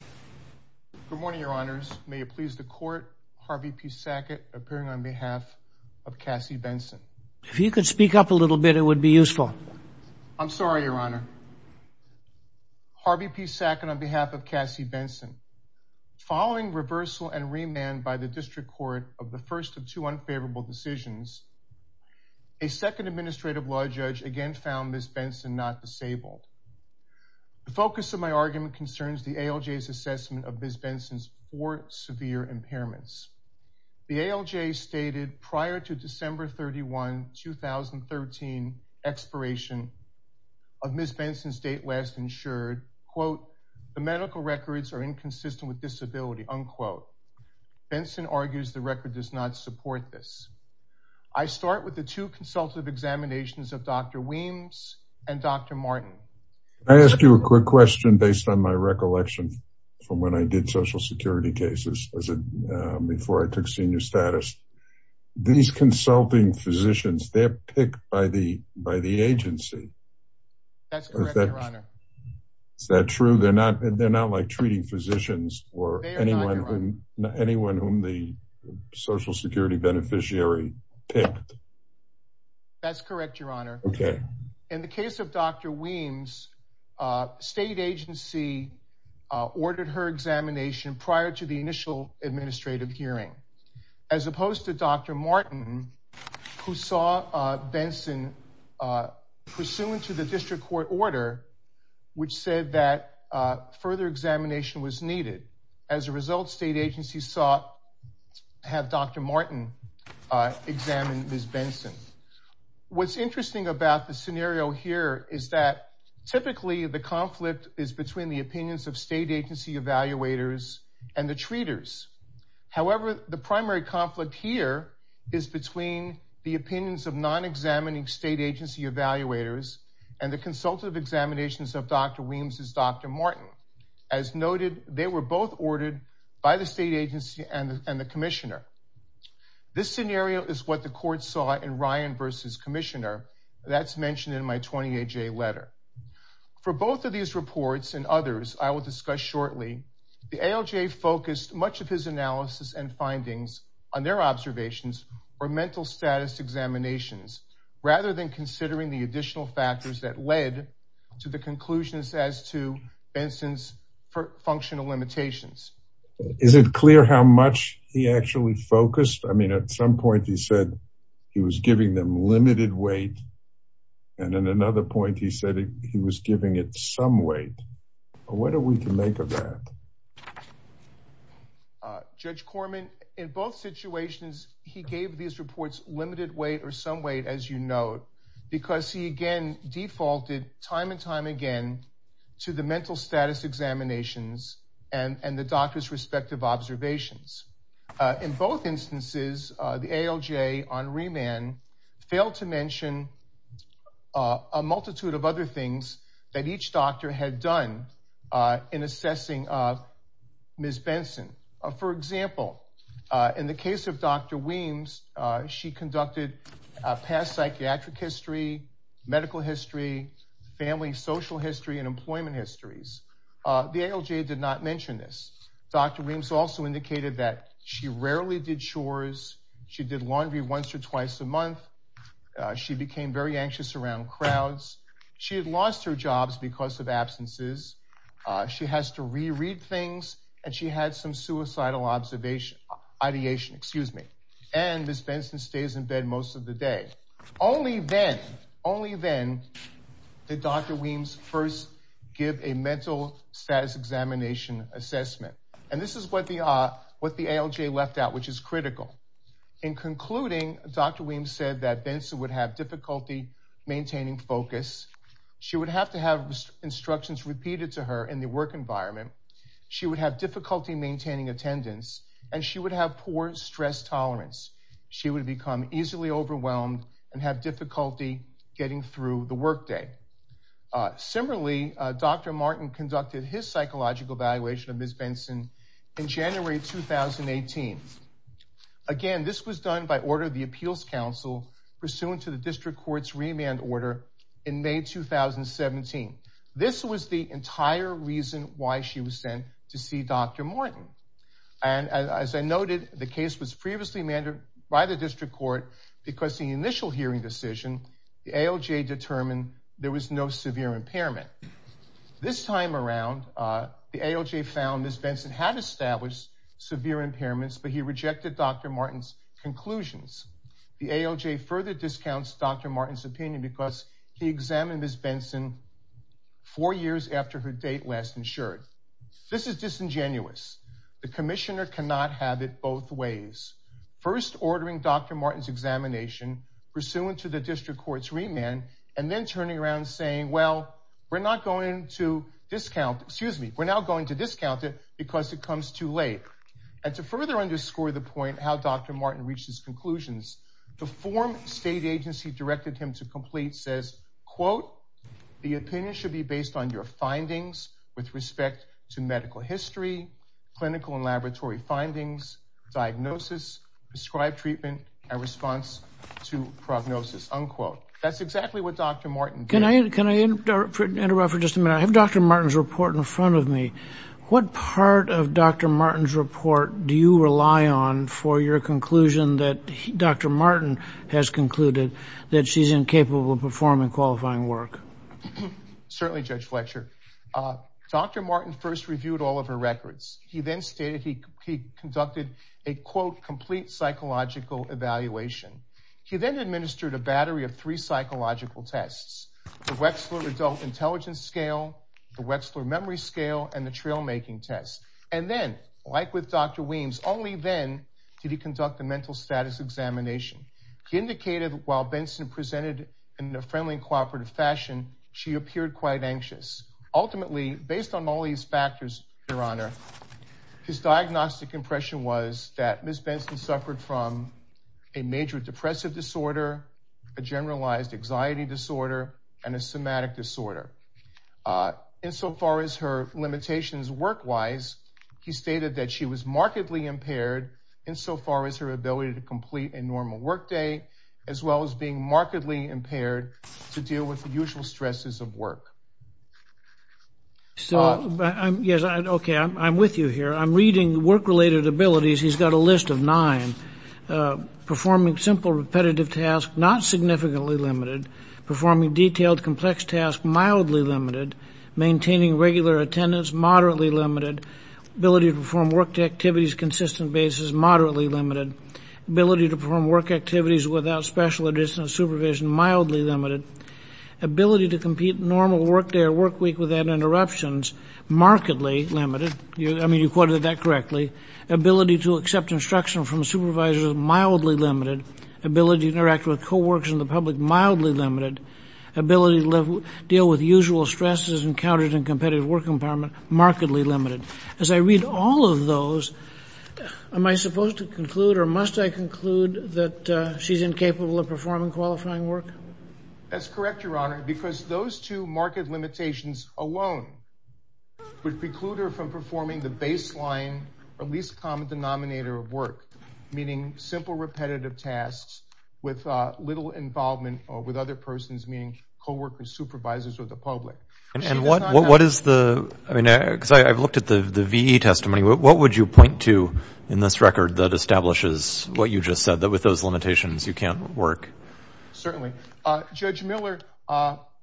Good morning your honors. May it please the court, Harvey P. Sackett appearing on behalf of Kassie Benson. If you could speak up a little bit it would be useful. I'm sorry your honor. Harvey P. Sackett on behalf of Kassie Benson. Following reversal and remand by the district court of the first of two unfavorable decisions, a second administrative law judge again found Ms. Benson not disabled. The focus of my argument concerns the ALJ's assessment of Ms. Benson's four severe impairments. The ALJ stated prior to December 31, 2013 expiration of Ms. Benson's date last insured quote the medical records are inconsistent with disability unquote. Benson argues the record does not support this. I start with the two consultative examinations of Dr. Weems and Dr. Martin. I ask you a quick question based on my recollection from when I did social security cases as a before I took senior status. These consulting physicians they're picked by the by the agency. That's correct your honor. Is that true they're not they're not like treating physicians or anyone who anyone whom the social security beneficiary picked? That's correct your honor. Okay in the case of Dr. Weems state agency ordered her examination prior to the initial administrative hearing as opposed to Dr. Martin who saw Benson pursuant to the district court order which said that further examination was needed. As a result state agencies sought have Dr. Martin examine Ms. Benson. What's interesting about the scenario here is that typically the conflict is between the opinions of state agency evaluators and the treaters. However the primary conflict here is between the opinions of non-examining state agency evaluators and the consultative examinations of Dr. Weems and Dr. Martin. As noted they were both ordered by the state agency and the commissioner. This scenario is what the court saw in Ryan versus commissioner that's mentioned in my 20-AJ letter. For both of these reports and others I will discuss shortly the ALJ focused much of his analysis and findings on their observations or mental status examinations rather than considering the additional factors that led to the conclusions as to Benson's functional limitations. Is it clear how much he actually focused? I mean at some point he said he was giving them limited weight and at another point he said he was giving it some weight. What are we to make of that? Judge Corman in both situations he gave these reports limited weight or some weight as you note because he again defaulted time and time again to the mental status examinations and the doctor's respective observations. In both instances the ALJ on remand failed to mention a multitude of other things that each doctor had done in assessing Ms. Benson. For example in the case of Dr. Weems she conducted past psychiatric history, medical history, family social history, and employment histories. The ALJ did not mention this. Dr. Weems also indicated that she rarely did chores. She did laundry once or twice a month. She became very anxious around crowds. She had lost her jobs because of absences. She has to reread things and she had some suicidal observation ideation excuse me and Ms. Benson stays in bed most of the day. Only then only then did Dr. Weems first give a mental status examination assessment and this is what the what the ALJ left out which is critical. In concluding Dr. Weems said that maintaining focus she would have to have instructions repeated to her in the work environment. She would have difficulty maintaining attendance and she would have poor stress tolerance. She would become easily overwhelmed and have difficulty getting through the workday. Similarly Dr. Martin conducted his psychological evaluation of Ms. Benson in January 2018. Again this was done by order of the appeals council pursuant to the district court's remand order in May 2017. This was the entire reason why she was sent to see Dr. Martin and as I noted the case was previously amended by the district court because the initial hearing decision the ALJ determined there was no severe impairment. This time around the ALJ found Ms. Benson had established severe impairments but he rejected Dr. Martin's conclusions. The ALJ further discounts Dr. Martin's opinion because he examined Ms. Benson four years after her date last insured. This is disingenuous. The commissioner cannot have it both ways. First ordering Dr. Martin's examination pursuant to the district court's remand and then turning around saying well we're not going to discount it because it comes too late and to further underscore the point how Dr. Martin reached his conclusions the form state agency directed him to complete says quote the opinion should be based on your findings with respect to medical history clinical and laboratory findings diagnosis prescribed treatment and response to prognosis unquote. That's exactly what Dr. Martin did. Can I interrupt for just a minute? I have Dr. Martin's report in front of me. What part of Dr. Martin's report do you rely on for your conclusion that Dr. Martin has concluded that she's incapable of performing qualifying work? Certainly Judge Fletcher. Dr. Martin first reviewed all of her records. He then stated he conducted a quote complete psychological evaluation. He then administered a battery of three psychological tests. The Wexler adult intelligence scale, the Wexler memory scale and the trail making test and then like with Dr. Weems only then did he conduct the mental status examination. He indicated while Benson presented in a friendly and cooperative fashion she appeared quite anxious. Ultimately based on all these factors your honor his diagnostic impression was that Ms. Benson suffered from a major depressive disorder, a generalized anxiety disorder and a somatic disorder. Insofar as her limitations work-wise he stated that she was markedly impaired insofar as her ability to complete a normal work day as well as being markedly impaired to deal with the usual stresses of work. I'm with you here. I'm reading work-related abilities. He's got a list of nine. Performing simple repetitive tasks not significantly limited. Performing detailed complex tasks mildly limited. Maintaining regular attendance moderately limited. Ability to perform work activities consistent basis moderately limited. Ability to perform work activities without special supervision mildly limited. Ability to compete normal work day or work week without interruptions markedly limited. I mean you quoted that correctly. Ability to accept instruction from supervisors mildly limited. Ability to interact with co-workers in the public mildly limited. Ability to deal with usual stresses encountered in competitive work empowerment markedly limited. As I read all of those am I supposed to conclude or must I conclude that she's incapable of performing qualifying work? That's correct your honor because those two marked limitations alone would preclude her from performing the baseline or least common denominator of work meaning simple repetitive tasks with little involvement or with other persons meaning co-workers supervisors or the public. And what what is the I mean because I've looked at the the VE testimony what would you point to in this record that establishes what you just said that with those limitations you can't work? Certainly. Judge Miller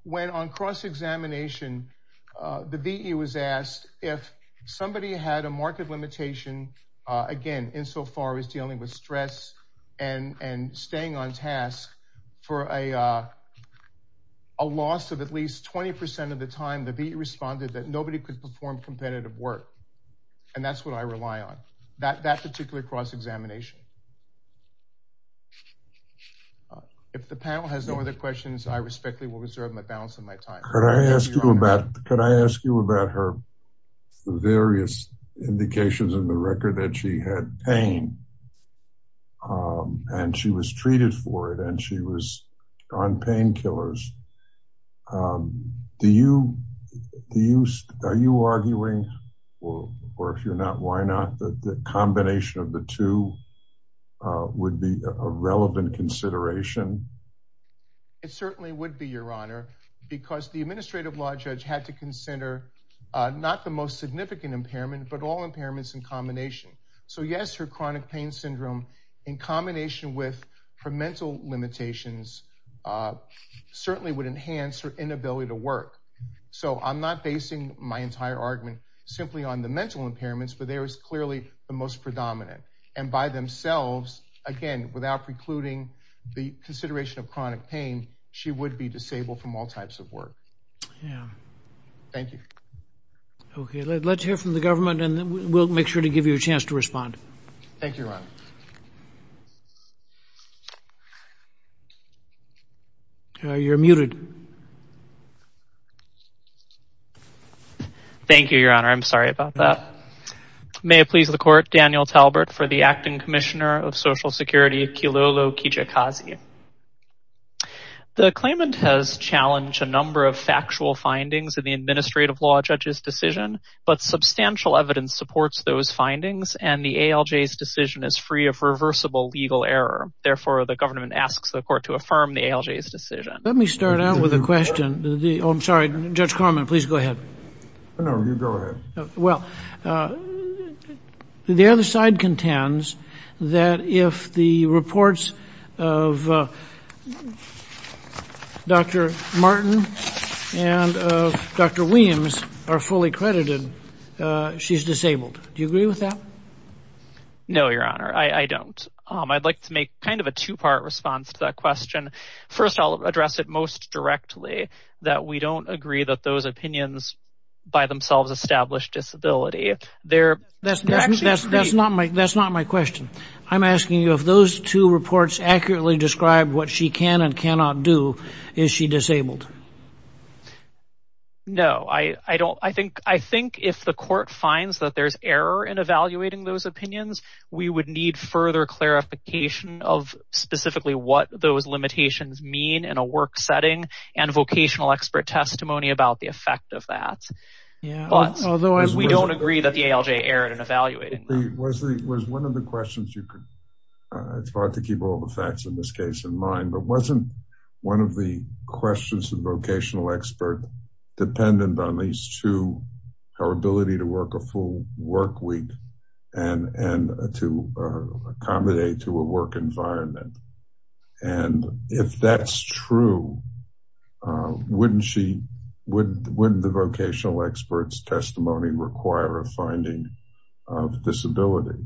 when on cross-examination the VE was asked if somebody had a marked limitation again insofar as dealing with stress and and staying on task for a loss of at least 20 percent of the time the VE responded that nobody could perform competitive work and that's what I rely on that that particular cross-examination. If the panel has no other questions I respectfully will reserve my balance of my time. Could I ask you about could I ask you about her various indications in the record that she had pain and she was treated for it and she was on painkillers. Do you do you are you arguing or or if you're not why not that the combination of the two would be a relevant consideration? It certainly would be your honor because the administrative law judge had to consider not the most significant impairment but all impairments in combination. So yes her chronic pain syndrome in combination with her mental limitations certainly would enhance her inability to work. So I'm not basing my entire argument simply on the mental impairments but there is clearly the most predominant and by themselves again without precluding the consideration of chronic pain she would be disabled from all types of work. Thank you. Okay let's hear from the government and then we'll make sure to give you a chance to respond. Thank you your honor. You're muted. Thank you your honor I'm sorry about that. May it please the court Daniel Talbert for the acting commissioner of social security Kilolo Kijakazi. The claimant has challenged a number of factual findings in the administrative law judge's decision but substantial evidence supports those findings and the ALJ's decision is free of reversible legal error. Therefore the government asks the court to affirm the ALJ's decision. Let me start out with a question. I'm sorry Judge Corman please go ahead. No you go ahead. Well the other side contends that if the reports of Dr. Martin and of Dr. Williams are fully credited she's disabled. Do you agree with that? No your honor I don't. I'd like to make kind of a two-part response to that question. First I'll address it most directly that we don't agree that those opinions by themselves established disability. They're that's that's that's not my that's not my question. I'm asking you if those two reports accurately describe what she can and cannot do is she disabled? No I I don't I think I think if the court finds that there's error in evaluating those opinions we would need further clarification of specifically what those limitations mean in a work setting and vocational expert testimony about the effect of that. Yeah but otherwise we don't agree that ALJ erred in evaluating. Was the was one of the questions you could it's hard to keep all the facts in this case in mind but wasn't one of the questions the vocational expert dependent on these two her ability to work a full work week and and to accommodate to a work environment and if that's true wouldn't she would wouldn't the vocational experts testimony require a finding of disability?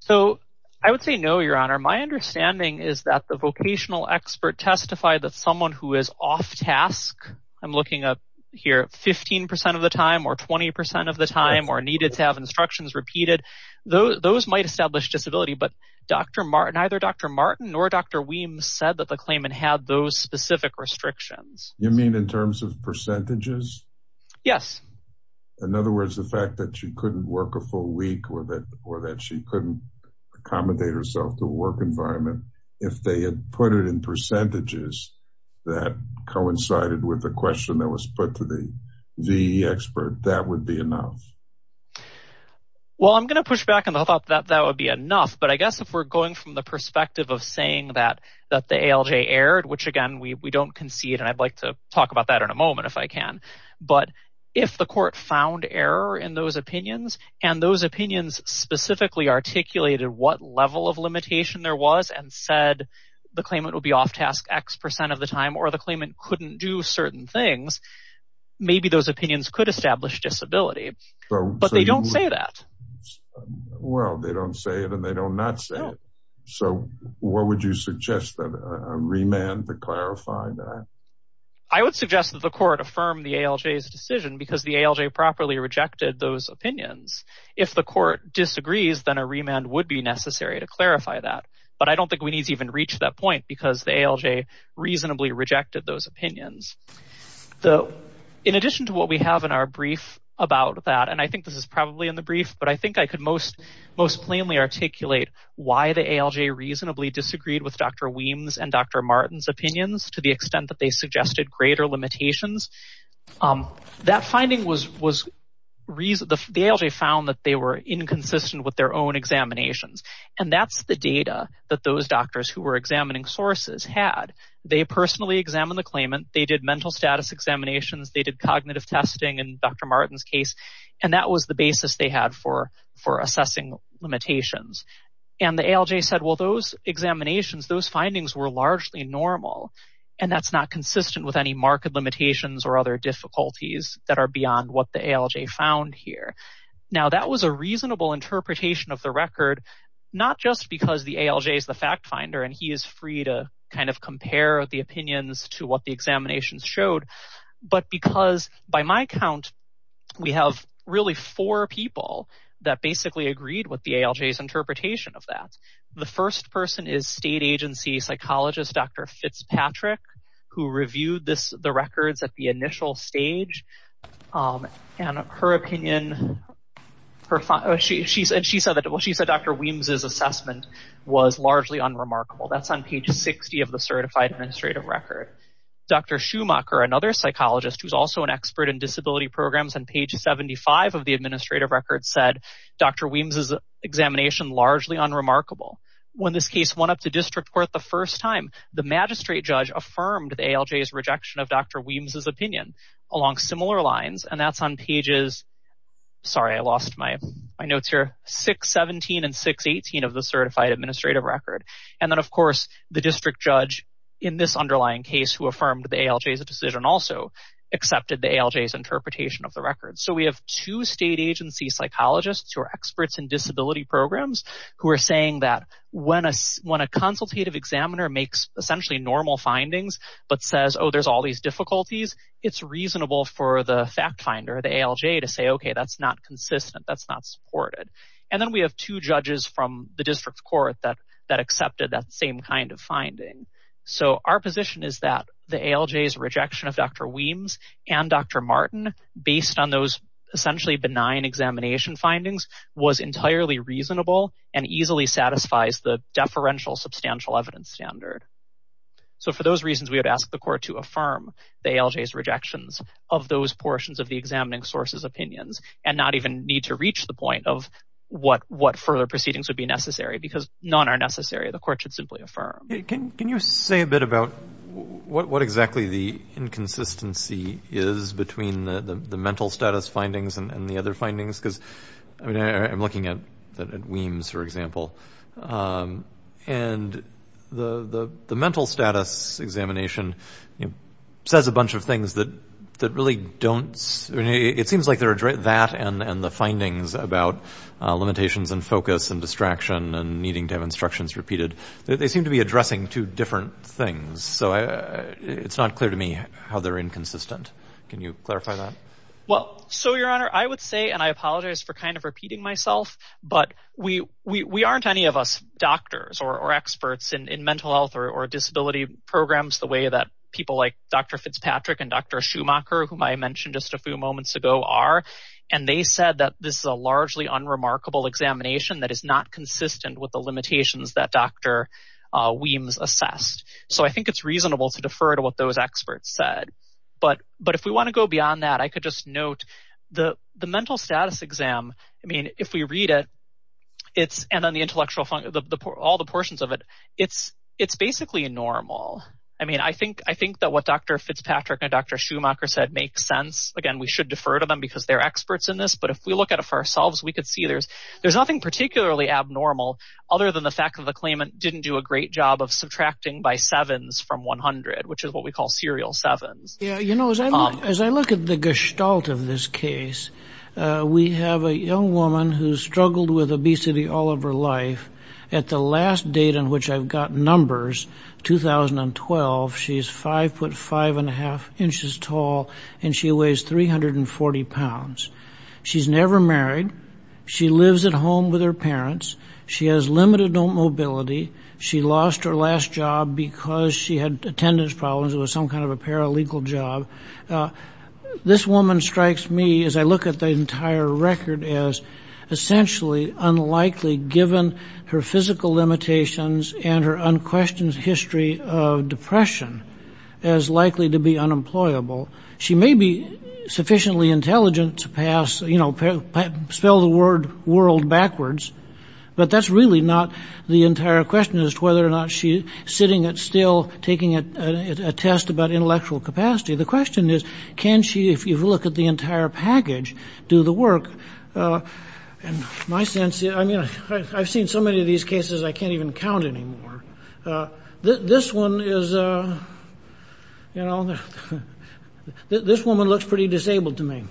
So I would say no your honor. My understanding is that the vocational expert testified that someone who is off task I'm looking up here 15 percent of the time or 20 percent of the time or needed to have instructions repeated those those might establish disability but Dr. Martin either Dr. Martin or Dr. Weems said that the claimant had those specific restrictions. You mean in terms of percentages? Yes. In other words the fact that she couldn't work a full week with it or that she couldn't accommodate herself to a work environment if they had put it in percentages that coincided with the question that was put to the the expert that would be enough? Well I'm going to push back on the thought that that would be enough but I guess if we're going from the perspective of saying that that the ALJ erred which again we we don't concede and I'd like to talk about that in a moment if I can but if the court found error in those opinions and those opinions specifically articulated what level of limitation there was and said the claimant would be off task x percent of the time or the claimant couldn't do certain things maybe those opinions could establish disability but they don't say that. Well they don't say it and they don't not say it so what would you suggest that a remand to clarify that? I would suggest that the court affirm the ALJ's decision because the ALJ properly rejected those opinions. If the court disagrees then a remand would be necessary to clarify that but I don't think we need to even reach that point because the ALJ reasonably rejected those opinions. So in addition to what we have in our brief about that and I think this is probably in the brief but I think I could most most plainly articulate why the ALJ reasonably disagreed with Dr. Weems and Dr. Martin's opinions to the extent that they suggested greater limitations. That finding was was reason the ALJ found that they were inconsistent with their own examinations and that's the data that those doctors who were sources had they personally examined the claimant they did mental status examinations they did cognitive testing and Dr. Martin's case and that was the basis they had for for assessing limitations and the ALJ said well those examinations those findings were largely normal and that's not consistent with any market limitations or other difficulties that are beyond what the ALJ found here. Now that was a reasonable interpretation of the record not just because the ALJ is the fact finder and he is free to kind of compare the opinions to what the examinations showed but because by my count we have really four people that basically agreed with the ALJ's interpretation of that. The first person is state agency psychologist Dr. Fitzpatrick who reviewed this the records at the initial stage and her opinion her she said she said that well she said Dr. Weems's assessment was largely unremarkable that's on page 60 of the certified administrative record. Dr. Schumacher another psychologist who's also an expert in disability programs on page 75 of the administrative record said Dr. Weems's examination largely unremarkable. When this case went up to district court the first time the magistrate judge affirmed the ALJ's rejection of Dr. Weems's opinion along similar lines and that's on pages sorry I lost my my notes here 617 and 618 of the certified administrative record and then of course the district judge in this underlying case who affirmed the ALJ's decision also accepted the ALJ's interpretation of the record. So we have two state agency psychologists who are experts in disability programs who are saying that when a when a consultative examiner makes essentially normal findings but says oh there's all these difficulties it's reasonable for the fact finder the ALJ to say okay that's not consistent that's not supported and then we have two judges from the district court that that accepted that same kind of finding. So our position is that the ALJ's rejection of Dr. Weems and Dr. Martin based on those essentially benign examination findings was entirely reasonable and easily satisfies the deferential substantial evidence standard. So for those reasons we had asked the court to affirm the ALJ's rejections of those portions of the examining source's opinions and not even need to reach the point of what what further proceedings would be necessary because none are necessary the court should simply affirm. Can can you say a bit about what what exactly the inconsistency is between the the mental status findings and the other findings because I mean I'm looking at that at Weems for example and the the the mental status examination you know says a bunch of things that that really don't I mean it seems like they're that and and the findings about limitations and focus and distraction and needing to have instructions repeated they seem to be addressing two different things so I it's not clear to me how they're inconsistent. Can you clarify that? Well so your honor I would say and I apologize for kind of repeating myself but we we aren't any of us doctors or experts in in mental health or disability programs the way that people like Dr. Fitzpatrick and Dr. Schumacher whom I mentioned just a few moments ago are and they said that this is a largely unremarkable examination that is not consistent with the limitations that Dr. assessed. So I think it's reasonable to defer to what those experts said but but if we want to go beyond that I could just note the the mental status exam I mean if we read it it's and then the intellectual the all the portions of it it's it's basically a normal I mean I think I think that what Dr. Fitzpatrick and Dr. Schumacher said makes sense again we should defer to them because they're experts in this but if we look at it for ourselves we could see there's there's nothing particularly abnormal other than the fact that the claimant didn't do a great job of subtracting by sevens from 100 which is what we call serial sevens. Yeah you know as I look as I look at the gestalt of this case we have a young woman who struggled with obesity all of her life at the last date on which I've got numbers 2012 she's five foot five and a half inches tall and she weighs 340 pounds she's never married she lives at home with her parents she has limited mobility she lost her last job because she had attendance problems it was some kind of a paralegal job this woman strikes me as I look at the entire record as essentially unlikely given her physical limitations and her unquestioned history of depression as likely to be unemployable she may be sufficiently intelligent to pass you know spell the word world backwards but that's really not the entire question as to whether or not she's sitting at still taking a test about intellectual capacity the question is can she if you look at the entire package do the work and my sense is I mean I've seen so many of these cases I can't even count anymore uh this one is uh you know this woman looks pretty disabled to me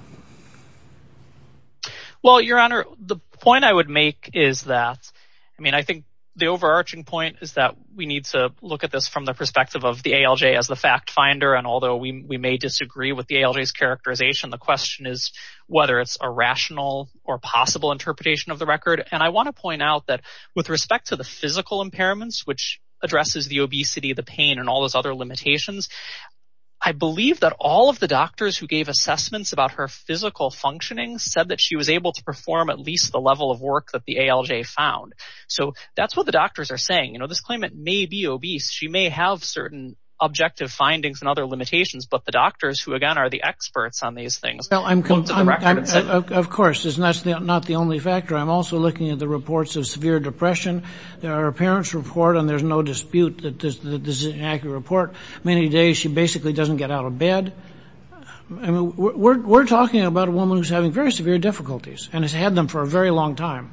well your honor the point I would make is that I mean I think the overarching point is that we need to look at this from the perspective of the ALJ as the fact finder and although we we may disagree with the ALJ's characterization the question is whether it's a rational or possible interpretation of the record and I want to point out that with respect to the physical impairments which addresses the obesity the pain and all those other limitations I believe that all of the doctors who gave assessments about her physical functioning said that she was able to perform at least the level of work that the ALJ found so that's what the doctors are saying you know this claimant may be obese she may have certain objective findings and other limitations but the doctors who again are the experts on these things well I'm going to the records of course is that's not the only factor I'm also looking at the reports of severe depression there are parents report and there's no dispute that this is an accurate report many days she basically doesn't get out of bed and we're talking about a woman who's having very severe difficulties and has had them for a very long time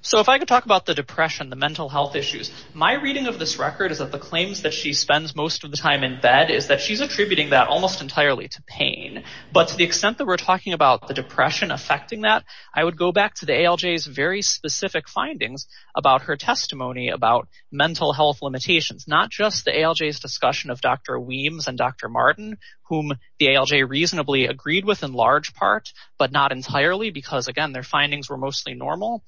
so if I could talk about the depression the mental health issues my reading of this record is that the claims that she spends most of the time in bed is that she's attributing that almost entirely to pain but to the extent that we're talking about the depression affecting that I would go back to the ALJ's very specific findings about her testimony about mental health limitations not just the ALJ's discussion of Dr. Weems and Dr. Martin whom the ALJ reasonably agreed with in large part but not entirely because again their findings were mostly normal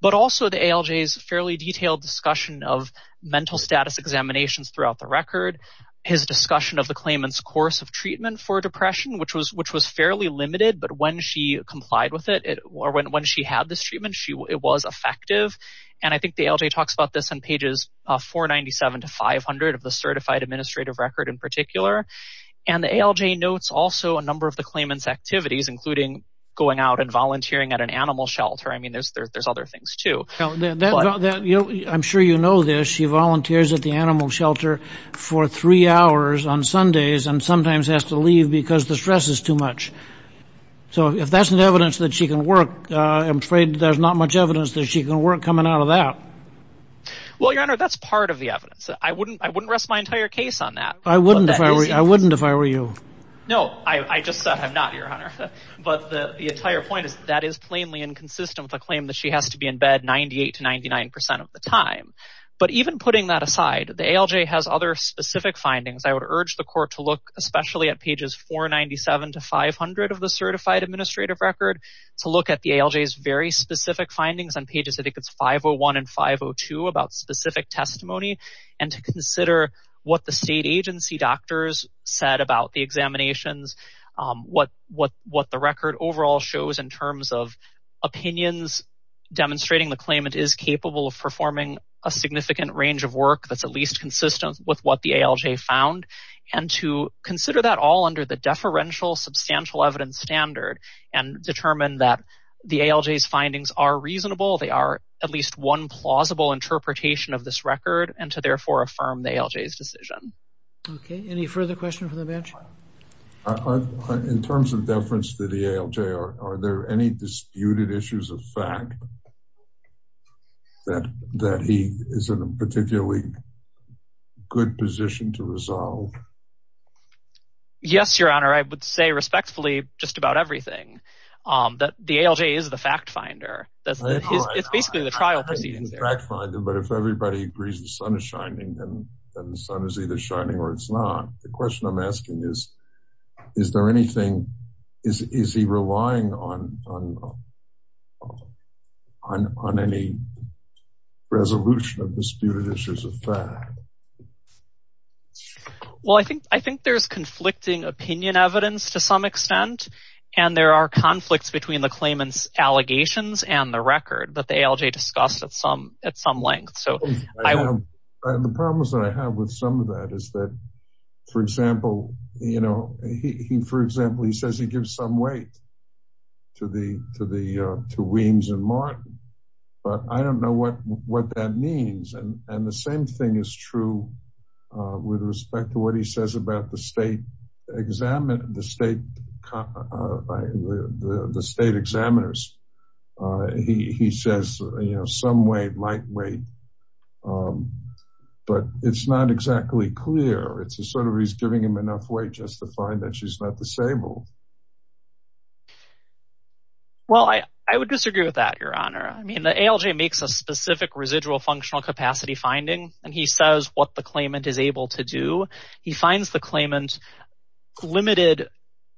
but also the ALJ's fairly detailed discussion of mental status examinations throughout the record his discussion of the claimant's course of treatment for depression which was which was fairly limited but when she complied with it or when she had this treatment she it was effective and I think the ALJ talks about this on pages 497 to 500 of the certified administrative record in particular and the ALJ notes also a number of the claimant's activities including going out and volunteering at an animal shelter I mean there's there's other things too. I'm sure you know this she volunteers at the animal shelter for three hours on Sundays and sometimes has to leave because the stress is too much so if that's an evidence that she can I'm afraid there's not much evidence that she can work coming out of that. Well your honor that's part of the evidence I wouldn't I wouldn't rest my entire case on that. I wouldn't if I were you. No I just said I'm not your honor but the entire point is that is plainly inconsistent with a claim that she has to be in bed 98 to 99 percent of the time but even putting that aside the ALJ has other specific findings I would urge the court to look especially at pages 497 to 500 of the certified administrative record to look at the ALJ's very specific findings on pages I think it's 501 and 502 about specific testimony and to consider what the state agency doctors said about the examinations what what what the record overall shows in terms of opinions demonstrating the claimant is capable of performing a significant range of work that's at with what the ALJ found and to consider that all under the deferential substantial evidence standard and determine that the ALJ's findings are reasonable they are at least one plausible interpretation of this record and to therefore affirm the ALJ's decision. Okay any further question for the bench? In terms of deference to the ALJ are there any disputed issues of fact that that he is in a particularly good position to resolve? Yes your honor I would say respectfully just about everything um that the ALJ is the fact finder that's it's basically the trial proceedings but if everybody agrees the sun is shining then then the sun is either shining or it's not the question I'm asking is is there anything is is he relying on on on any resolution of disputed issues of fact? Well I think I think there's conflicting opinion evidence to some extent and there are conflicts between the claimants allegations and the record that the ALJ discussed at some at some length so I have the problems that I have with some of that is that for example you know he for example he says he gives some weight to the to the uh to Weems and Martin but I don't know what what that means and and the same thing is true uh with respect to what he says about the state examined the state uh the state examiners uh he he says you know some way might wait but it's not exactly clear it's a sort of he's giving him enough weight just to find that she's not disabled. Well I I would disagree with that your honor I mean the ALJ makes a specific residual functional capacity finding and he says what the claimant is able to do he finds the claimant limited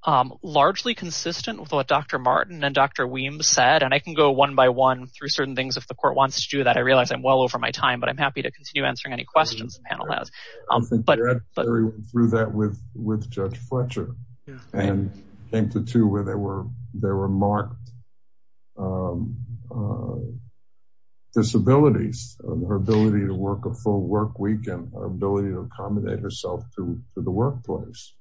um largely consistent with what Dr. Martin and Dr. Weems said and I can go one by one through certain things if the court wants to do that I realize I'm well over my time but I'm happy to continue answering any questions the panel has um but but through that with with Judge Fletcher and came to two where there were there were marked um uh disabilities her ability to work a full work ability to accommodate herself to the workplace.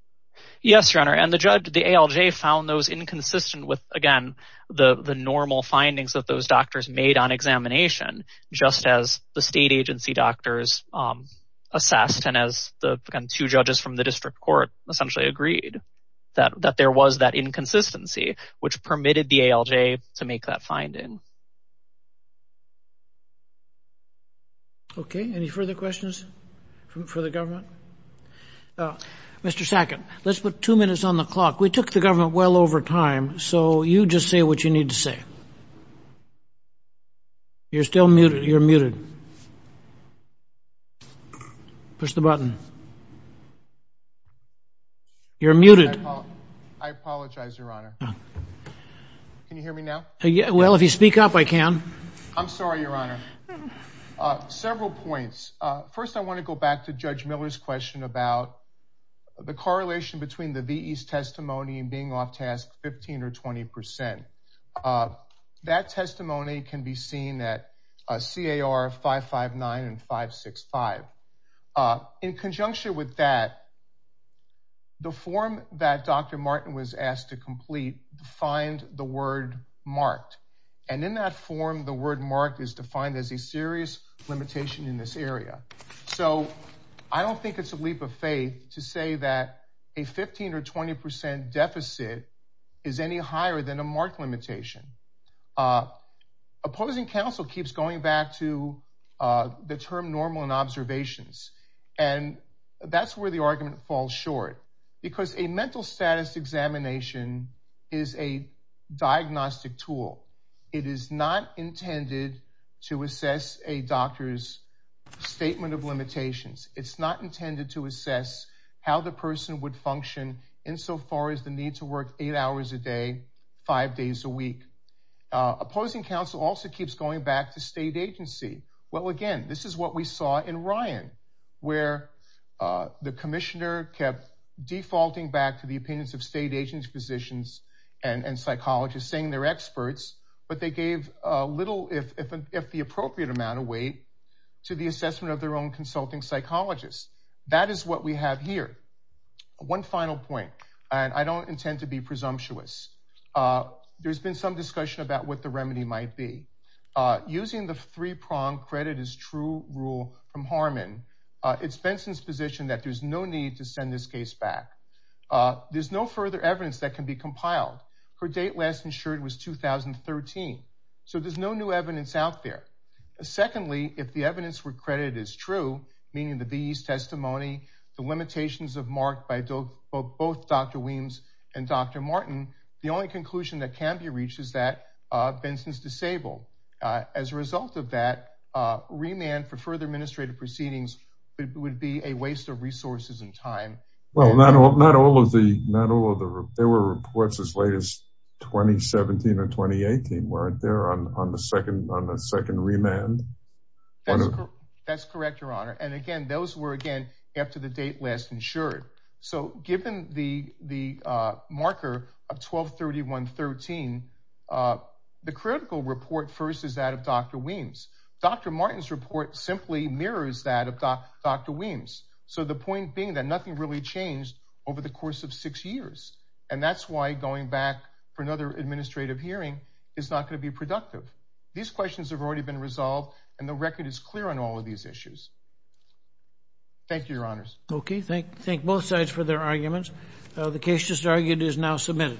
Yes your honor and the judge the ALJ found those inconsistent with again the the normal findings that those doctors made on examination just as the state agency doctors um assessed and as the two judges from the district court essentially agreed that that there was that inconsistency which permitted the ALJ to make that finding. Okay any further questions from for the government uh Mr. Sackett let's put two minutes on the clock we took the government well over time so you just say what you need to say you're still muted you're muted push the button you're muted I apologize your honor can you hear me now yeah well if you speak up I can I'm sorry your honor uh several points uh first I want to go back to Judge Miller's question about the correlation between the VE's testimony and being off task 15 or 20 percent uh that with that the form that Dr. Martin was asked to complete find the word marked and in that form the word marked is defined as a serious limitation in this area so I don't think it's a leap of faith to say that a 15 or 20 percent deficit is any higher than a mark limitation uh opposing council keeps going back to uh the term normal and observations and that's where the argument falls short because a mental status examination is a diagnostic tool it is not intended to assess a doctor's statement of limitations it's not intended to assess how the person would function insofar as the need to work eight hours a day five days a week uh opposing council also keeps going back to state agency well again this is what we saw in Ryan where uh the commissioner kept defaulting back to the opinions of state agency positions and and psychologists saying they're experts but they gave a little if if the appropriate amount of weight to the assessment of their own consulting psychologists that is what we have here one final point and I don't intend to presumptuous uh there's been some discussion about what the remedy might be uh using the three-prong credit is true rule from Harmon it's Benson's position that there's no need to send this case back uh there's no further evidence that can be compiled her date last insured was 2013 so there's no new evidence out there secondly if the evidence were credited as true meaning these testimony the limitations of mark by both both Dr. Weems and Dr. Martin the only conclusion that can be reached is that uh Benson's disabled uh as a result of that uh remand for further administrative proceedings it would be a waste of resources and time well not all not all of the not all of the there were reports as late as 2017 or 2018 weren't there on on the second on the after the date last insured so given the the uh marker of 12 31 13 uh the critical report first is that of Dr. Weems Dr. Martin's report simply mirrors that of Dr. Weems so the point being that nothing really changed over the course of six years and that's why going back for another administrative hearing is not going to be productive these questions have already been thank you your honors okay thank thank both sides for their arguments uh the case just argued is now submitted